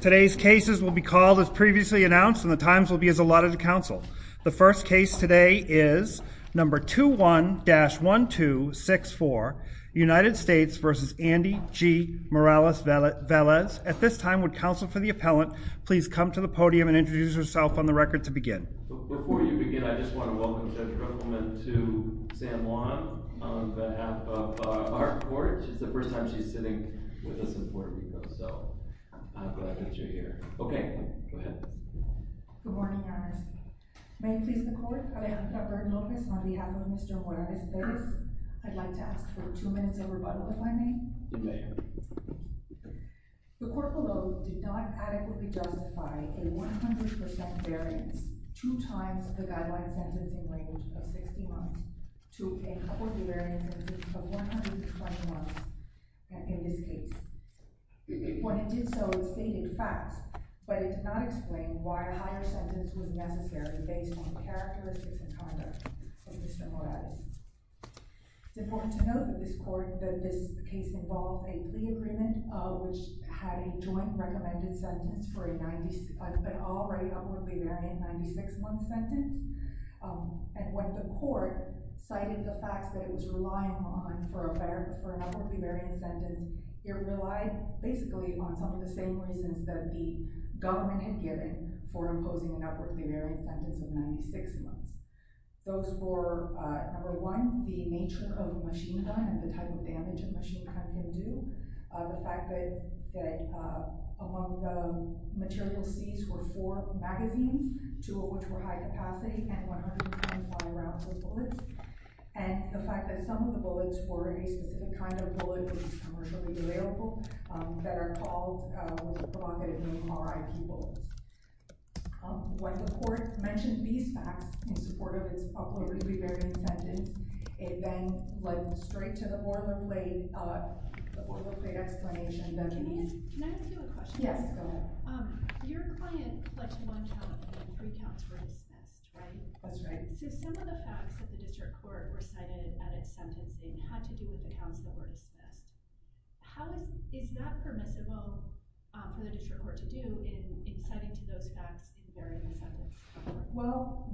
Today's cases will be called as previously announced and the times will be as allotted to counsel. The first case today is number 21-1264 United States v. Andy G. Morales-Velez. At this time, would counsel for the appellant please come to the podium and introduce herself on the record to begin. Before you begin, I just want to welcome Judge Krugelman to San Juan on behalf of our court. It's the first time she's sitting with us in Puerto Rico, so I'm glad that you're here. Okay, go ahead. Good morning, Your Honors. May it please the court, Alejandra Burton Lopez on behalf of Mr. Morales-Velez. I'd like to ask for two minutes of rebuttal, if I may. You may. The court below did not adequately justify a 100% variance, two times the guideline sentencing range of 60 months, to a courtly variance of 120 months in this case. When it did so, it stated facts, but it did not explain why a higher sentence was necessary based on characteristics and conduct of Mr. Morales. It's important to note that this case involved a plea agreement, which had a joint recommended sentence for an already upwardly varying 96-month sentence. And when the court cited the facts that it was relying on for an upwardly varying sentence, it relied basically on some of the same reasons that the government had given for imposing an upwardly varying sentence of 96 months. Those were, number one, the nature of machina and the type of damage a machina can do, the fact that among the material seized were four magazines, two of which were high-capacity and 100 times by round reports, and the fact that some of the bullets were a specific kind of bullet, which is commercially available, that are called provocatively R.I.P. bullets. When the court mentioned these facts in support of its upwardly varying sentence, it then went straight to the boilerplate explanation that it needs. Can I ask you a question? Yes, go ahead. Your client pledged one count and three counts were dismissed, right? That's right. So some of the facts that the district court recited at its sentencing had to do with the counts that were dismissed. How is that permissible for the district court to do in citing to those facts the varying sentence? Well,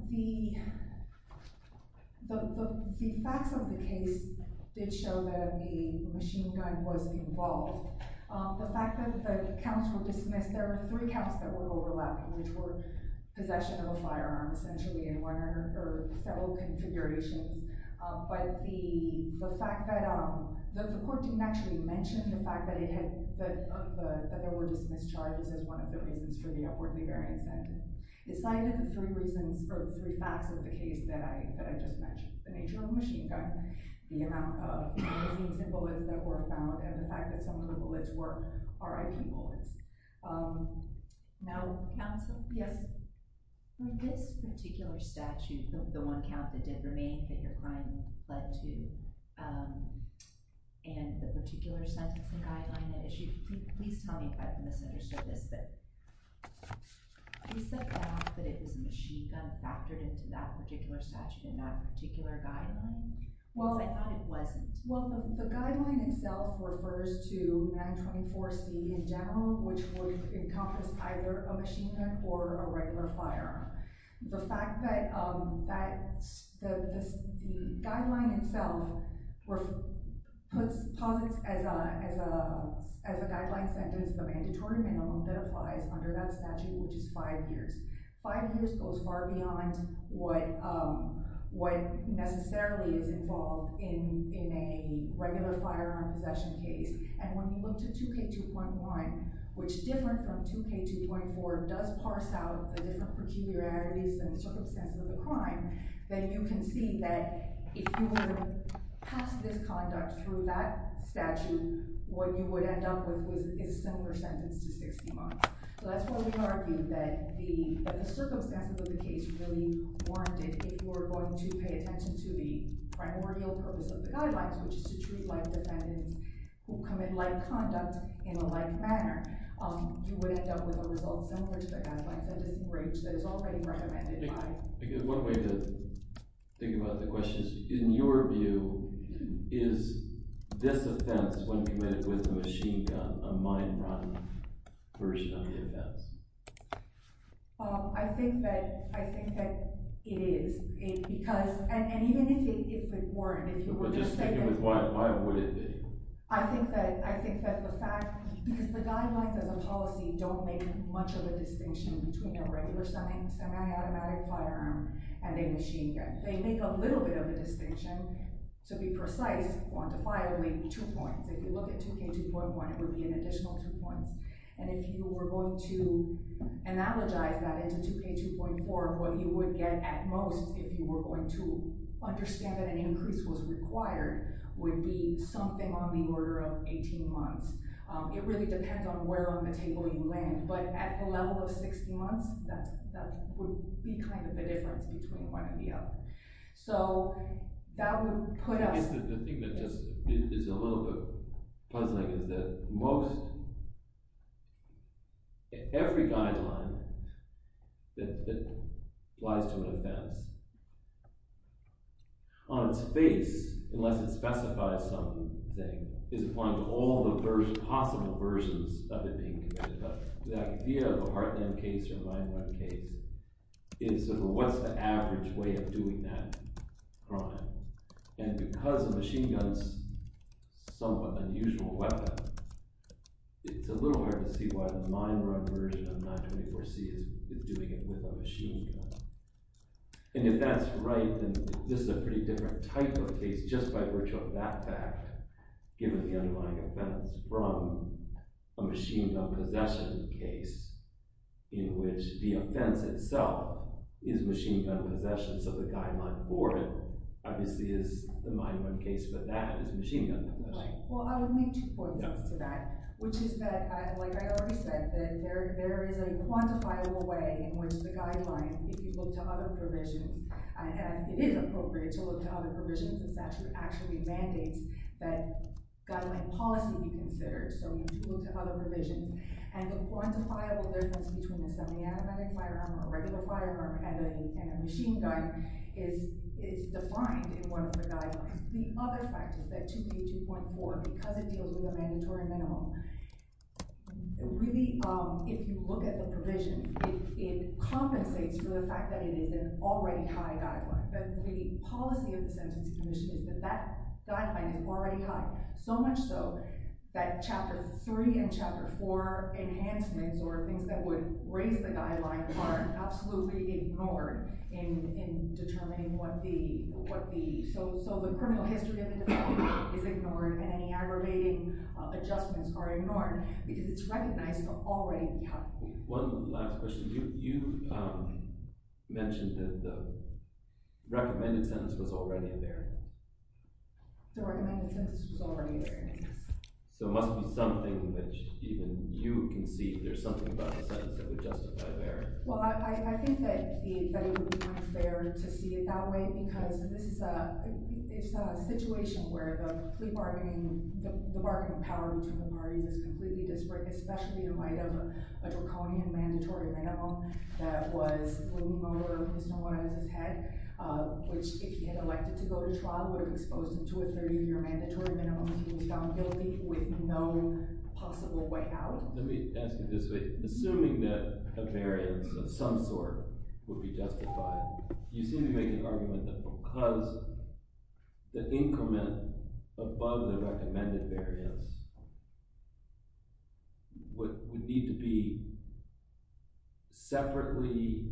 the facts of the case did show that the machine gun was involved. The fact that the counts were dismissed, there were three counts that were overlapping, which were possession of a firearm, essentially, in one or several configurations. The court didn't actually mention the fact that there were dismissed charges as one of the reasons for the upwardly varying sentence. It cited the three facts of the case that I just mentioned, the nature of the machine gun, the amount of magazines and bullets that were found, and the fact that some of the bullets were R.I.P. bullets. Now, counsel? Yes. This particular statute, the one count that did remain that your client pled to, and the particular sentencing guideline that it issued, please tell me if I've misunderstood this. You said that it was a machine gun factored into that particular statute in that particular guideline? I thought it wasn't. Well, the guideline itself refers to 924C in general, which would encompass either a machine gun or a regular firearm. The fact that the guideline itself posits as a guideline sentence the mandatory minimum that applies under that statute, which is five years. Five years goes far beyond what necessarily is involved in a regular firearm possession case. And when you look to 2K2.1, which different from 2K2.4, does parse out the different peculiarities and circumstances of the crime, then you can see that if you were to pass this conduct through that statute, what you would end up with is a similar sentence to 60 months. So that's why we argue that the circumstances of the case really warranted, if you were going to pay attention to the primordial purpose of the guidelines, which is to treat life defendants who commit life conduct in a life manner, you would end up with a result similar to the guidelines sentencing range that is already recommended by— One way to think about the question is, in your view, is this offense, when committed with a machine gun, a mind-rotten version of the offense? I think that it is, because—and even if it weren't, if you were to say that— But just sticking with why would it be? I think that the fact—because the guidelines as a policy don't make much of a distinction between a regular semi-automatic firearm and a machine gun. They make a little bit of a distinction. To be precise, quantified, it would be two points. If you look at 2K2.1, it would be an additional two points. And if you were going to analogize that into 2K2.4, what you would get at most, if you were going to understand that an increase was required, would be something on the order of 18 months. It really depends on where on the table you land. But at the level of 60 months, that would be kind of the difference between one and the other. So that would put us— I guess the thing that just is a little bit puzzling is that most— every guideline that applies to an offense, on its face, unless it specifies something, is applying to all the possible versions of it being committed. But the idea of a Heartland case or a 9-1 case is what's the average way of doing that crime? And because a machine gun is somewhat an unusual weapon, it's a little hard to see why the 9-1 version of 924C is doing it with a machine gun. And if that's right, then this is a pretty different type of case just by virtue of that fact. Given the underlying offense from a machine gun possession case, in which the offense itself is machine gun possession, so the guideline for it obviously is the 9-1 case, but that is machine gun possession. Well, I would make two points to that, which is that, like I already said, there is a quantifiable way in which the guideline, if you look to other provisions, and it is appropriate to look to other provisions, it actually mandates that guideline policy be considered. So you should look to other provisions. And the quantifiable difference between a semi-automatic firearm or a regular firearm and a machine gun is defined in one of the guidelines. The other fact is that 2K2.4, because it deals with a mandatory minimum, really, if you look at the provision, it compensates for the fact that it is an already high guideline. The policy of the Sentencing Commission is that that guideline is already high, so much so that Chapter 3 and Chapter 4 enhancements or things that would raise the guideline are absolutely ignored in determining what the—so the criminal history of the defendant is ignored and any aggravating adjustments are ignored because it's recognized already. One last question. You mentioned that the recommended sentence was already there. The recommended sentence was already there, yes. So it must be something which even you can see. There's something about the sentence that would justify the error. Well, I think that it would be unfair to see it that way because it's a situation where the bargaining power between the parties is completely disparate, especially in light of a draconian mandatory minimum that was a little more than what was in his head, which, if he had elected to go to trial, would have exposed him to a 30-year mandatory minimum if he was found guilty with no possible way out. Let me ask you this way. Assuming that a variance of some sort would be justified, you seem to be making an argument that because the increment above the recommended variance would need to be separately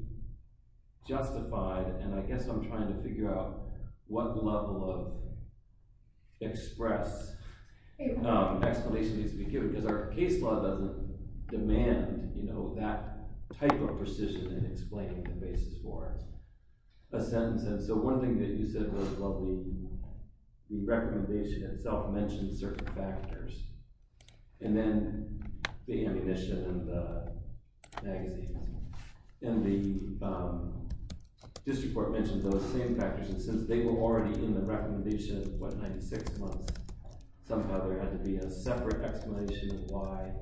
justified, and I guess I'm trying to figure out what level of express explanation needs to be given because our case law doesn't demand that type of precision in explaining the basis for a sentence. So one thing that you said was the recommendation itself mentioned certain factors, and then the ammunition and the magazines. And the district court mentioned those same factors, and since they were already in the recommendation, what, 96 months, somehow there had to be a separate explanation of why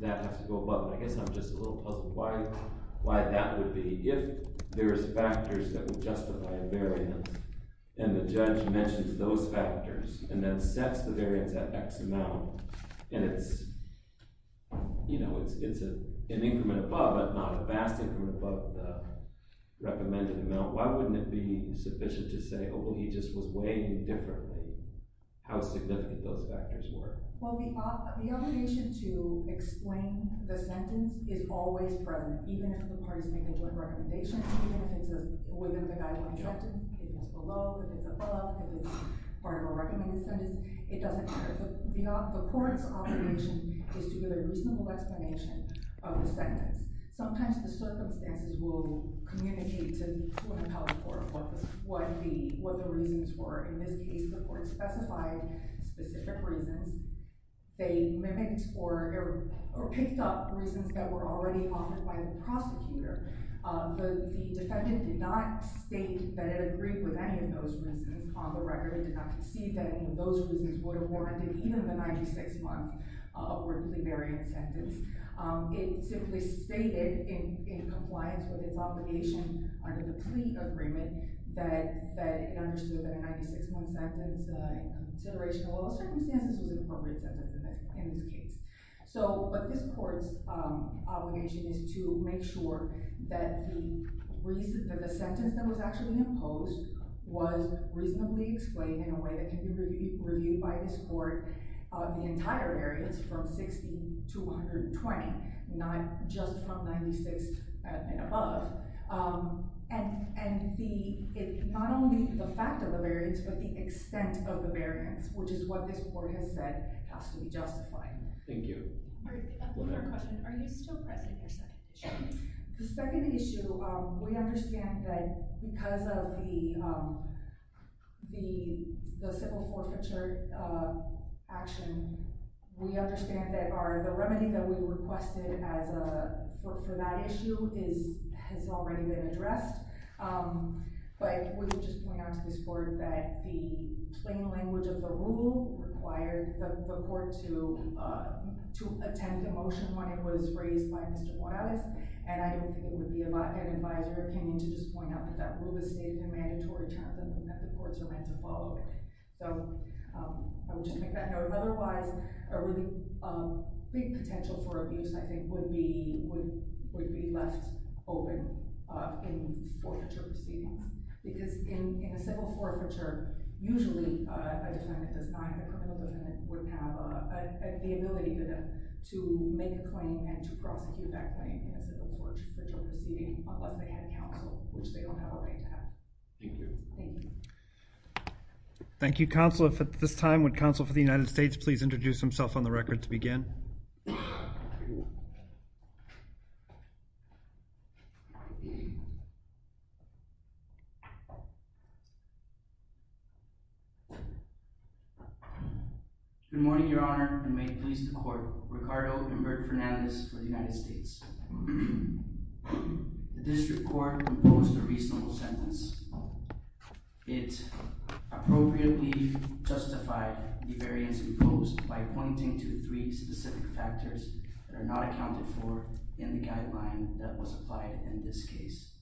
that has to go above. And I guess I'm just a little puzzled why that would be. If there is factors that would justify a variance, and the judge mentions those factors and then sets the variance at X amount, and it's an increment above, but not a vast increment above the recommended amount, why wouldn't it be sufficient to say, oh, well, he just was weighing differently how significant those factors were? Well, the obligation to explain the sentence is always present, even if the parties make a joint recommendation, even if it's within the guideline directed, if it's below, if it's above, if it's part of a recommended sentence, it doesn't matter. The court's obligation is to give a reasonable explanation of the sentence. Sometimes the circumstances will communicate to an appellate court what the reasons were. In this case, the court specified specific reasons. They mimicked or picked up reasons that were already offered by the prosecutor, but the defendant did not state that it agreed with any of those reasons. On the record, it did not concede that any of those reasons would have warranted even the 96-month worth of the variance sentence. It simply stated in compliance with its obligation under the plea agreement that it understood that a 96-month sentence in consideration of all circumstances was an appropriate sentence in this case. But this court's obligation is to make sure that the sentence that was actually imposed was reasonably explained in a way that can be reviewed by this court of the entire variance from 60 to 120, not just from 96 and above. And not only the fact of the variance, but the extent of the variance, which is what this court has said has to be justified. Thank you. One more question. Are you still pressing your second issue? The second issue, we understand that because of the civil forfeiture action, we understand that the remedy that we requested for that issue has already been addressed. But would you just point out to this court that the plain language of the rule required the court to attend the motion when it was raised by Mr. Morales? And I think it would be an advisory opinion to just point out that that rule was stated in a mandatory chapter and that the courts are meant to follow it. So I would just make that note. Otherwise, a really big potential for abuse, I think, would be left open in forfeiture proceedings. Because in a civil forfeiture, usually a defendant does not have the ability to make a claim and to prosecute that claim in a civil forfeiture proceeding unless they have counsel, which they don't have a way to have. Thank you. Thank you. Thank you, counsel. At this time, would counsel for the United States please introduce himself on the record to begin? Good morning, Your Honor, and may it please the court. Ricardo Invert Fernandez for the United States. The district court imposed a reasonable sentence. It appropriately justified the variance imposed by pointing to three specific factors that are not accounted for in the guideline that was applied in this case.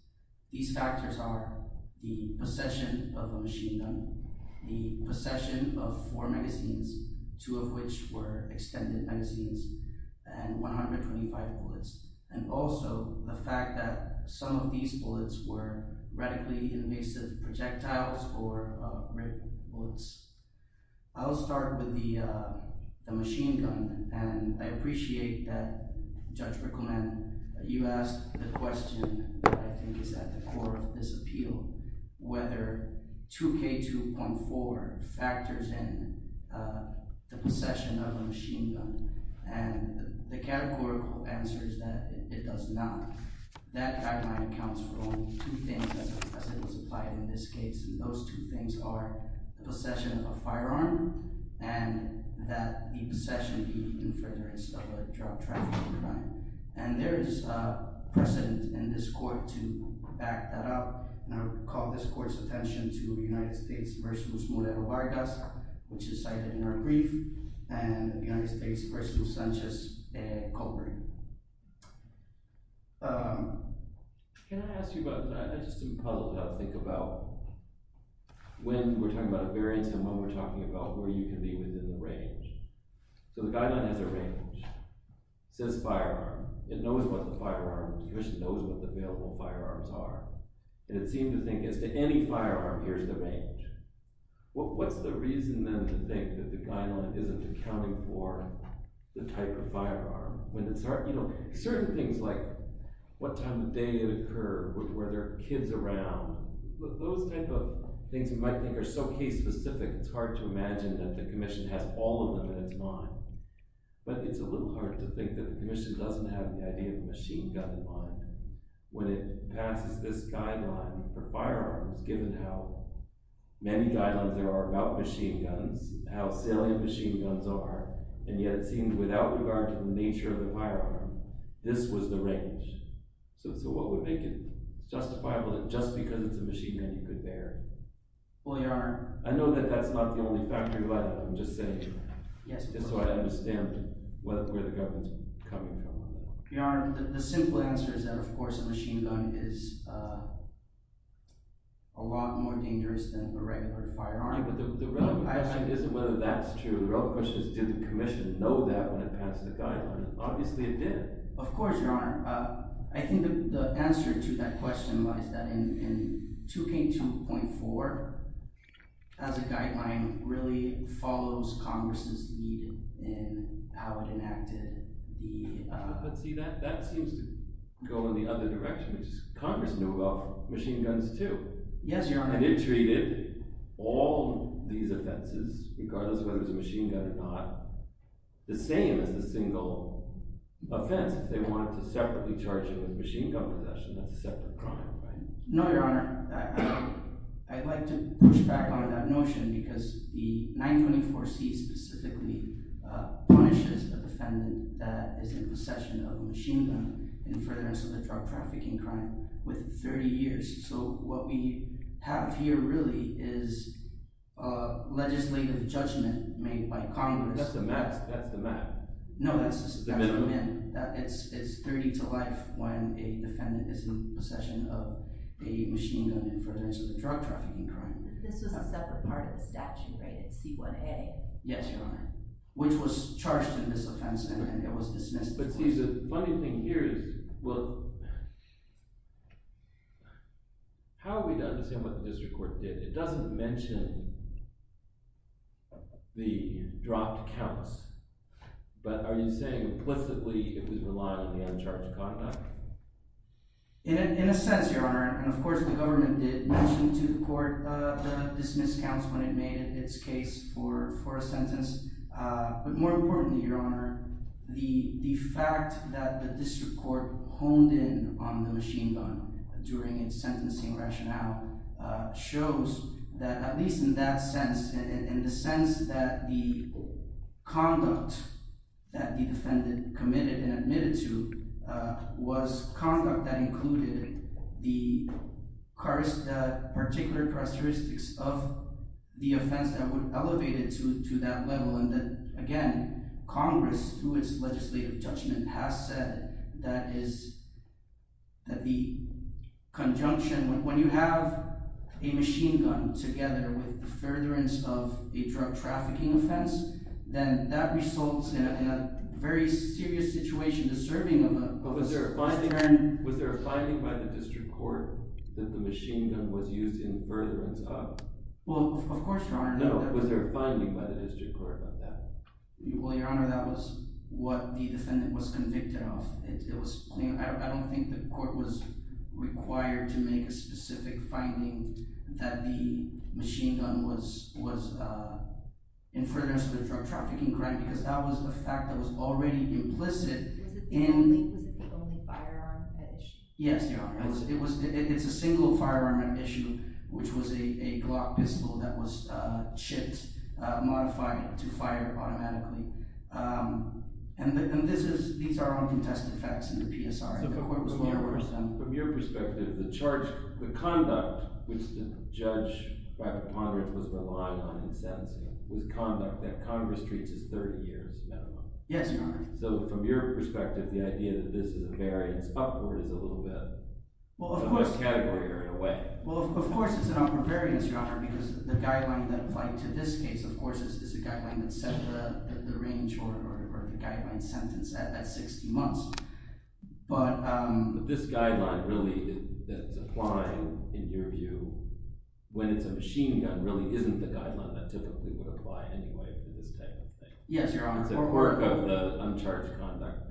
These factors are the possession of a machine gun, the possession of four magazines, two of which were extended magazines and 125 bullets, and also the fact that some of these bullets were radically invasive projectiles or rifle bullets. I'll start with the machine gun, and I appreciate that Judge Rickleman, you asked the question that I think is at the core of this appeal, whether 2K2.4 factors in the possession of a machine gun. And the categorical answer is that it does not. That guideline accounts for only two things as it was applied in this case, and those two things are the possession of a firearm and that the possession be in furtherance of a drug trafficking crime. And there is precedent in this court to back that up, and I would call this court's attention to the United States v. Moreno Vargas, which is cited in our brief, and the United States v. Sanchez-Coburn. Can I ask you about that? I just am puzzled how to think about when we're talking about a variance and when we're talking about where you can be within the range. So the guideline has a range. It says firearm. It knows what the firearm is. Commission knows what the available firearms are, and it seemed to think as to any firearm, here's the range. What's the reason then to think that the guideline isn't accounting for the type of firearm? Certain things like what time of day it occurred, were there kids around? Those type of things you might think are so case-specific, it's hard to imagine that the commission has all of them in its mind. But it's a little hard to think that the commission doesn't have the idea of a machine gun in mind when it passes this guideline for firearms, given how many guidelines there are about machine guns, how salient machine guns are, and yet it seems without regard to the nature of the firearm, this was the range. So what would make it justifiable that just because it's a machine gun, you could bear it? Well, Your Honor— I know that that's not the only fact of your life, I'm just saying. Yes, Your Honor. Just so I understand where the government's coming from. Your Honor, the simple answer is that, of course, a machine gun is a lot more dangerous than a regular firearm. But the relevant question isn't whether that's true. The relevant question is, did the commission know that when it passed the guideline? Obviously it did. Of course, Your Honor. I think the answer to that question was that in 2K2.4, as a guideline, really follows Congress' lead in how it enacted the— But see, that seems to go in the other direction, which is Congress knew about machine guns too. Yes, Your Honor. And it treated all these offenses, regardless of whether it was a machine gun or not, the same as the single offense. They wanted to separately charge you with machine gun possession. That's a separate crime, right? No, Your Honor. I'd like to push back on that notion because the 924C specifically punishes a defendant that is in possession of a machine gun in furtherance of a drug trafficking crime within 30 years. So what we have here really is legislative judgment made by Congress— That's the max. That's the max. No, that's the min. It's 30 to life when a defendant is in possession of a machine gun in furtherance of a drug trafficking crime. This was a separate part of the statute, right? It's C1A. Yes, Your Honor. Which was charged in this offense, and it was dismissed. But see, the funny thing here is— How are we to understand what the district court did? It doesn't mention the dropped counts, but are you saying implicitly it was reliant on the uncharged conduct? In a sense, Your Honor, and of course the government did mention to the court the dismissed counts when it made its case for a sentence. But more importantly, Your Honor, the fact that the district court honed in on the machine gun during its sentencing rationale shows that, at least in that sense, in the sense that the conduct that the defendant committed and admitted to was conduct that included the particular characteristics of the offense that would elevate it to that level. And that, again, Congress, through its legislative judgment, has said that the conjunction—when you have a machine gun together with the furtherance of a drug trafficking offense, then that results in a very serious situation. Was there a finding by the district court that the machine gun was used in furtherance of— Well, of course, Your Honor. No, was there a finding by the district court on that? Well, Your Honor, that was what the defendant was convicted of. I don't think the court was required to make a specific finding that the machine gun was in furtherance of the drug trafficking crime because that was a fact that was already implicit in— Was it the only firearm at issue? Yes, Your Honor. It was—it's a single firearm at issue, which was a Glock pistol that was chipped, modified to fire automatically. And this is—these are all contested facts in the PSR. So from your perspective, the charge—the conduct which the judge, by the ponderance, was relying on in sentencing was conduct that Congress treats as 30 years minimum. Yes, Your Honor. So from your perspective, the idea that this is a variance upward is a little bit— Well, of course— In what category or in what way? Well, of course it's an upward variance, Your Honor, because the guideline that applied to this case, of course, is a guideline that set the range or the guideline sentence at 60 months. But— But this guideline really that's applying, in your view, when it's a machine gun really isn't the guideline that typically would apply anyway for this type of thing. Yes, Your Honor. It's a work of the uncharged conduct.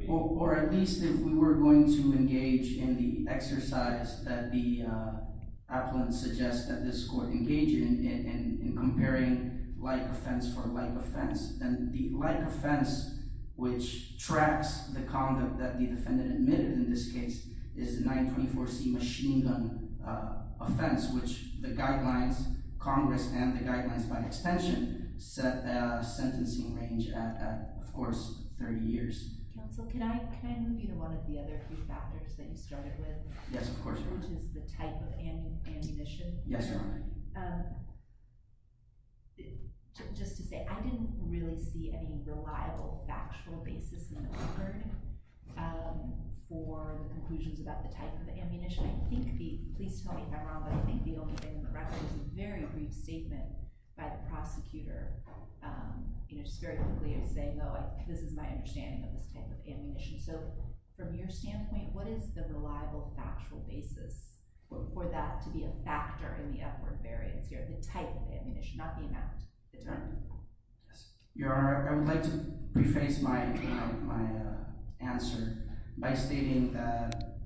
Of course, 30 years. Counsel, can I move you to one of the other key factors that you started with? Yes, of course, Your Honor. Which is the type of ammunition. Yes, Your Honor. Just to say, I didn't really see any reliable factual basis in the record for conclusions about the type of ammunition. I think the—please tell me if I'm wrong, but I think the only thing in the record was a very brief statement by the prosecutor, you know, just very quickly saying, oh, this is my understanding of this type of ammunition. So from your standpoint, what is the reliable factual basis for that to be a factor in the upward variance here, the type of ammunition, not the amount, the type? Your Honor, I would like to rephrase my answer by stating that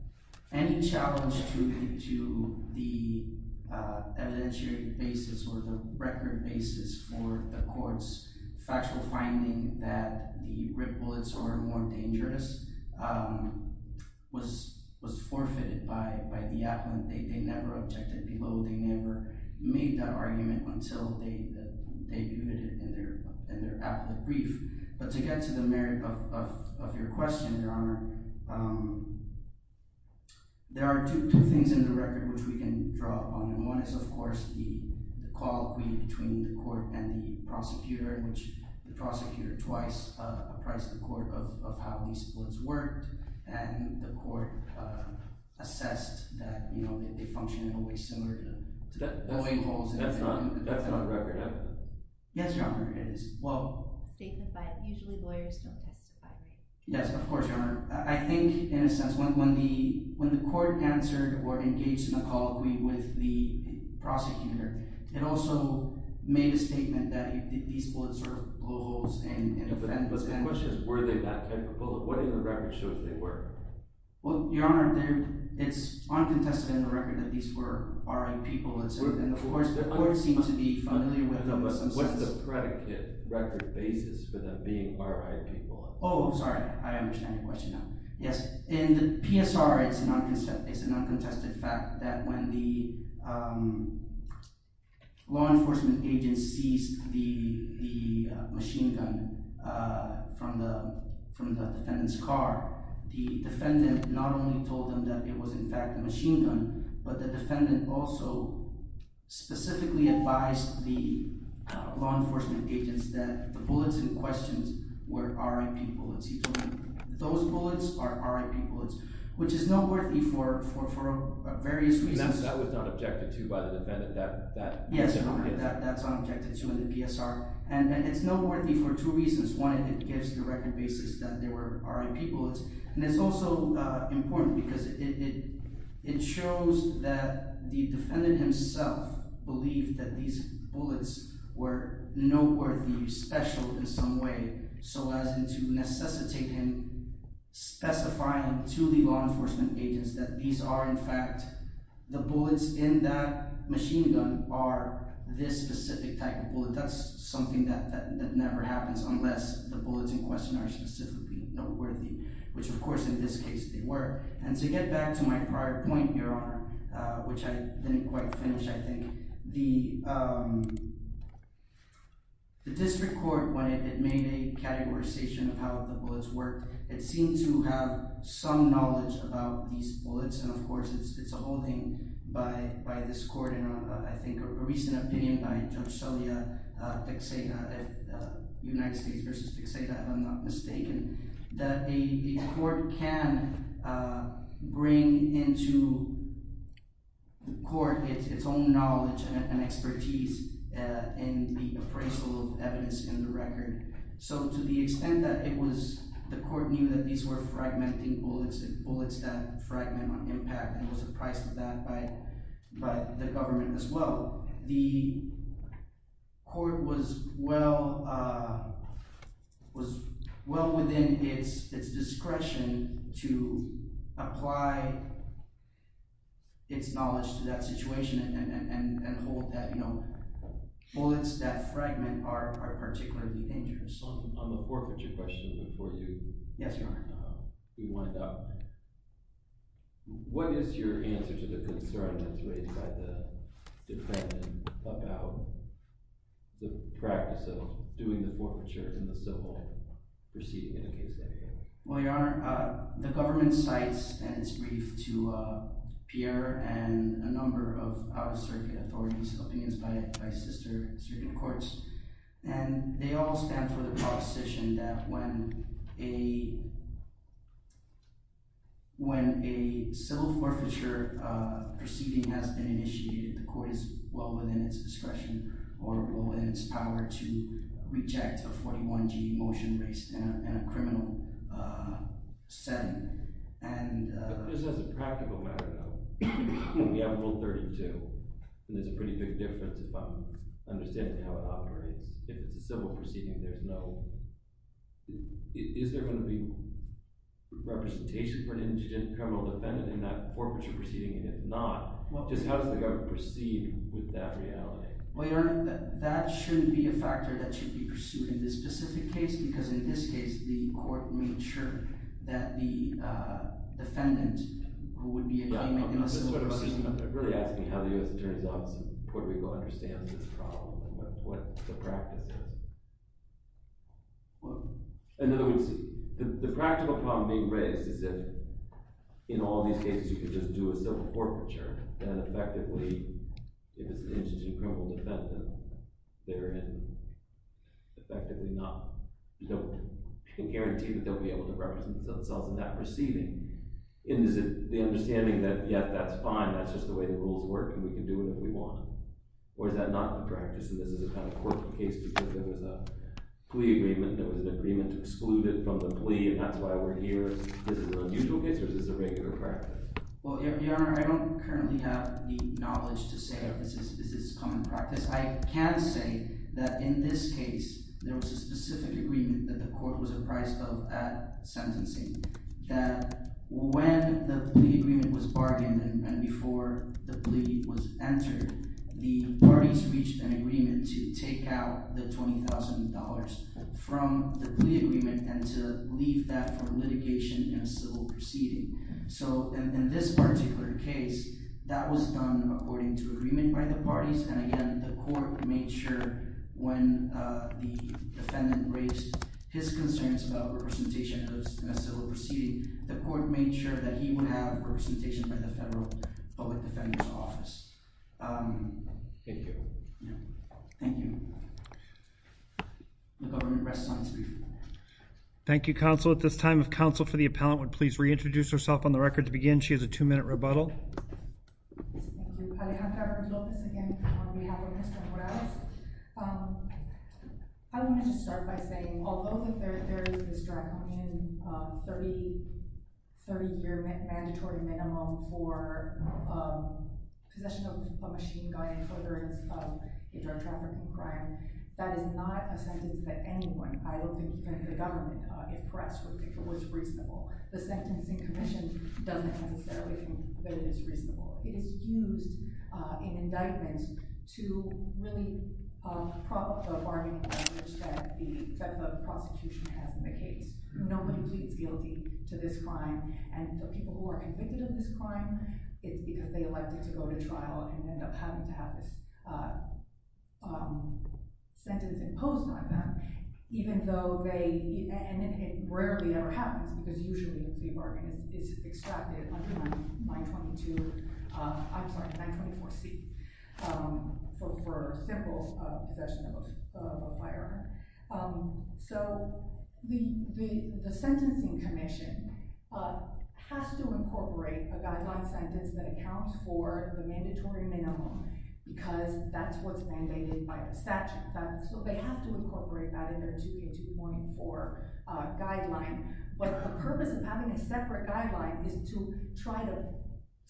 any challenge to the evidentiary basis or the record basis for the court's factual finding that the rib bullets are more dangerous was forfeited by the appellant. They never objected below. They never made that argument until they viewed it in their appellate brief. But to get to the merit of your question, Your Honor, there are two things in the record which we can draw upon. One is, of course, the colloquy between the court and the prosecutor, which the prosecutor twice appraised the court of how these bullets worked, and the court assessed that, you know, they functioned in a way similar to— That's not a record, no. Yes, Your Honor, it is. Well— Statement by—usually lawyers don't testify, right? Yes, of course, Your Honor. I think, in a sense, when the court answered or engaged in a colloquy with the prosecutor, it also made a statement that these bullets were blowholes and— But the question is, were they that type of bullet? What in the record shows they were? Well, Your Honor, it's uncontested in the record that these were R.I.P. bullets, and of course, the court seemed to be familiar with them in some sense. What's the predicate record basis for them being R.I.P. bullets? Oh, sorry, I understand your question now. Yes, in the PSR, it's a non-contested fact that when the law enforcement agency seized the machine gun from the defendant's car, the defendant not only told them that it was, in fact, a machine gun, but the defendant also specifically advised the law enforcement agents that the bullets in question were R.I.P. bullets. Those bullets are R.I.P. bullets, which is noteworthy for various reasons. And that was not objected to by the defendant? Yes, Your Honor, that's not objected to in the PSR, and it's noteworthy for two reasons. One, it gives the record basis that they were R.I.P. bullets, and it's also important because it shows that the defendant himself believed that these bullets were noteworthy, special in some way, so as to necessitate him specifying to the law enforcement agents that these are, in fact, the bullets in that machine gun are this specific type of bullet. That's something that never happens unless the bullets in question are specifically noteworthy, which, of course, in this case, they were. And to get back to my prior point, Your Honor, which I didn't quite finish, I think, the district court, when it made a categorization of how the bullets worked, it seemed to have some knowledge about these bullets, and, of course, it's a holding by this court in, I think, a recent opinion by Judge Celia Teixeira, United States v. Teixeira, if I'm not mistaken, that a court can bring into the court its own knowledge and expertise in the appraisal of evidence in the record. So to the extent that it was – the court knew that these were fragmenting bullets and bullets that fragment on impact, and was apprised of that by the government as well, the court was well within its discretion to apply its knowledge to that situation and hold that bullets that fragment are particularly dangerous. On the forfeiture question before you wind up, what is your answer to the concern raised by the defendant about the practice of doing the forfeiture in the civil proceeding in a case like this? Well, Your Honor, the government cites, and it's briefed to Pierre and a number of other circuit authorities, opinions by sister circuit courts, and they all stand for the proposition that when a civil forfeiture proceeding has been initiated, the court is well within its discretion or well within its power to reject a 41G motion raised in a criminal setting. But just as a practical matter, though, we have Rule 32, and there's a pretty big difference if I'm understanding how it operates. If it's a civil proceeding, there's no – is there going to be representation for an indigent criminal defendant in that forfeiture proceeding? And if not, just how does the government proceed with that reality? Well, Your Honor, that shouldn't be a factor that should be pursued in this specific case, because in this case, the court made sure that the defendant would be making a civil proceeding. I'm really asking how the U.S. Attorney's Office in Puerto Rico understands this problem and what the practice is. In other words, the practical problem being raised is that in all these cases, you could just do a civil forfeiture, and effectively, if it's an indigent criminal defendant, they're effectively not – you can guarantee that they'll be able to represent themselves in that proceeding. And is it the understanding that, yes, that's fine, that's just the way the rules work, and we can do what we want? Or is that not the practice, and this is a kind of court case because there was a plea agreement, there was an agreement to exclude it from the plea, and that's why we're here? Is this an unusual case, or is this a regular practice? Well, Your Honor, I don't currently have the knowledge to say if this is common practice. I can say that in this case, there was a specific agreement that the court was apprised of at sentencing, that when the plea agreement was bargained and before the plea was entered, the parties reached an agreement to take out the $20,000 from the plea agreement and to leave that for litigation in a civil proceeding. So in this particular case, that was done according to agreement by the parties, and again, the court made sure when the defendant raised his concerns about representation in a civil proceeding, the court made sure that he would have representation by the federal public defender's office. Thank you. Thank you. The government rests on its brief. Thank you, Counsel. At this time, if Counsel for the Appellant would please reintroduce herself on the record to begin. She has a two-minute rebuttal. Alejandra Rodriguez, again, on behalf of Mr. Morales. I want to just start by saying, although there is this drug in a 30-year mandatory minimum for possession of a machine-gun incidence of a drug trafficking crime, that is not a sentence that anyone, I don't think even the government, if pressed, would think was reasonable. The sentencing commission doesn't necessarily think that it is reasonable. It is used in indictment to really prop up the bargaining leverage that the prosecution has in the case. Nobody pleads guilty to this crime, and the people who are convicted of this crime, it's because they elected to go to trial and end up having to have this sentence imposed on them, even though they, and it rarely ever happens, because usually the fee bargain is extracted under 922, I'm sorry, 924C, for simple possession of a firearm. So the sentencing commission has to incorporate a guideline sentence that accounts for the mandatory minimum, because that's what's mandated by the statute. So they have to incorporate that in their 2K2.4 guideline, but the purpose of having a separate guideline is to try to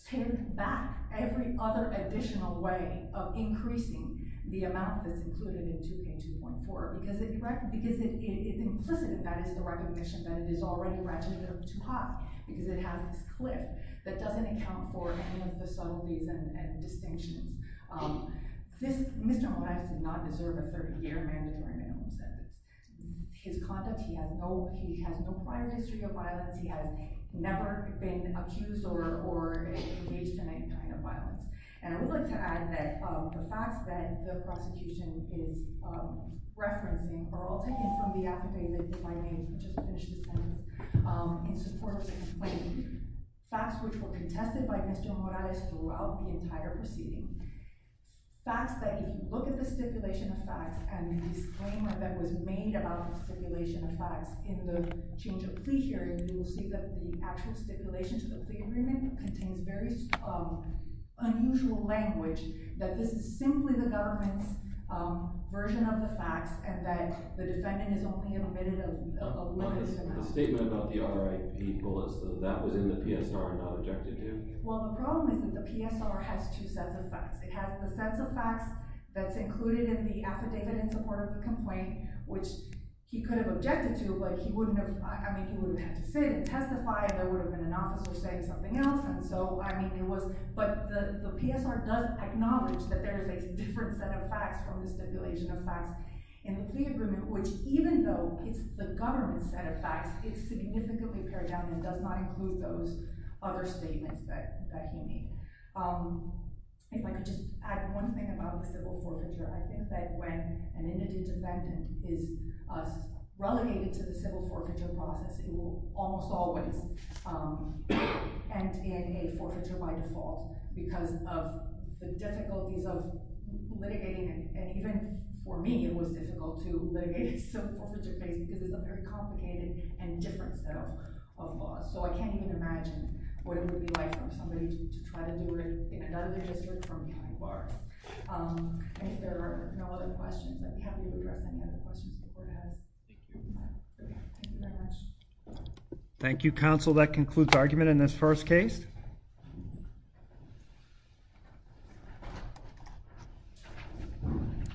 tip back every other additional way of increasing the amount that's included in 2K2.4, because if implicit in that is the recognition that it is already ratcheted up too high, because it has this cliff that doesn't account for any of the subtleties and distinctions. Mr. Morales did not deserve a 30-year mandatory minimum sentence. His conduct, he has no prior history of violence, he has never been accused or engaged in any kind of violence. And I would like to add that the facts that the prosecution is referencing are all taken from the affidavit in support of his claim, facts which were contested by Mr. Morales throughout the entire proceeding. Facts that, if you look at the stipulation of facts and the disclaimer that was made about the stipulation of facts in the change of plea hearing, you will see that the actual stipulation to the plea agreement contains very unusual language, that this is simply the government's version of the facts, and that the defendant is only admitted a limited amount. The statement about the R.I.P. bullets, that was in the PSR and not objected to? Well, the problem is that the PSR has two sets of facts. It has the sets of facts that's included in the affidavit in support of the complaint, which he could have objected to, but he wouldn't have, I mean, he would have had to sit and testify, there would have been an officer saying something else. But the PSR does acknowledge that there is a different set of facts from the stipulation of facts in the plea agreement, which even though it's the government's set of facts, it's significantly pared down and does not include those other statements that he made. If I could just add one thing about the civil forfeiture, I think that when an indigent defendant is relegated to the civil forfeiture process, it will almost always end in a forfeiture by default, because of the difficulties of litigating, and even for me it was difficult to litigate a civil forfeiture case because it's a very complicated and different set of laws, so I can't even imagine what it would be like for somebody to try to do it in another district from behind bars. And if there are no other questions, I'd be happy to address any other questions the court has. Thank you very much. Thank you, counsel. That concludes argument in this first case.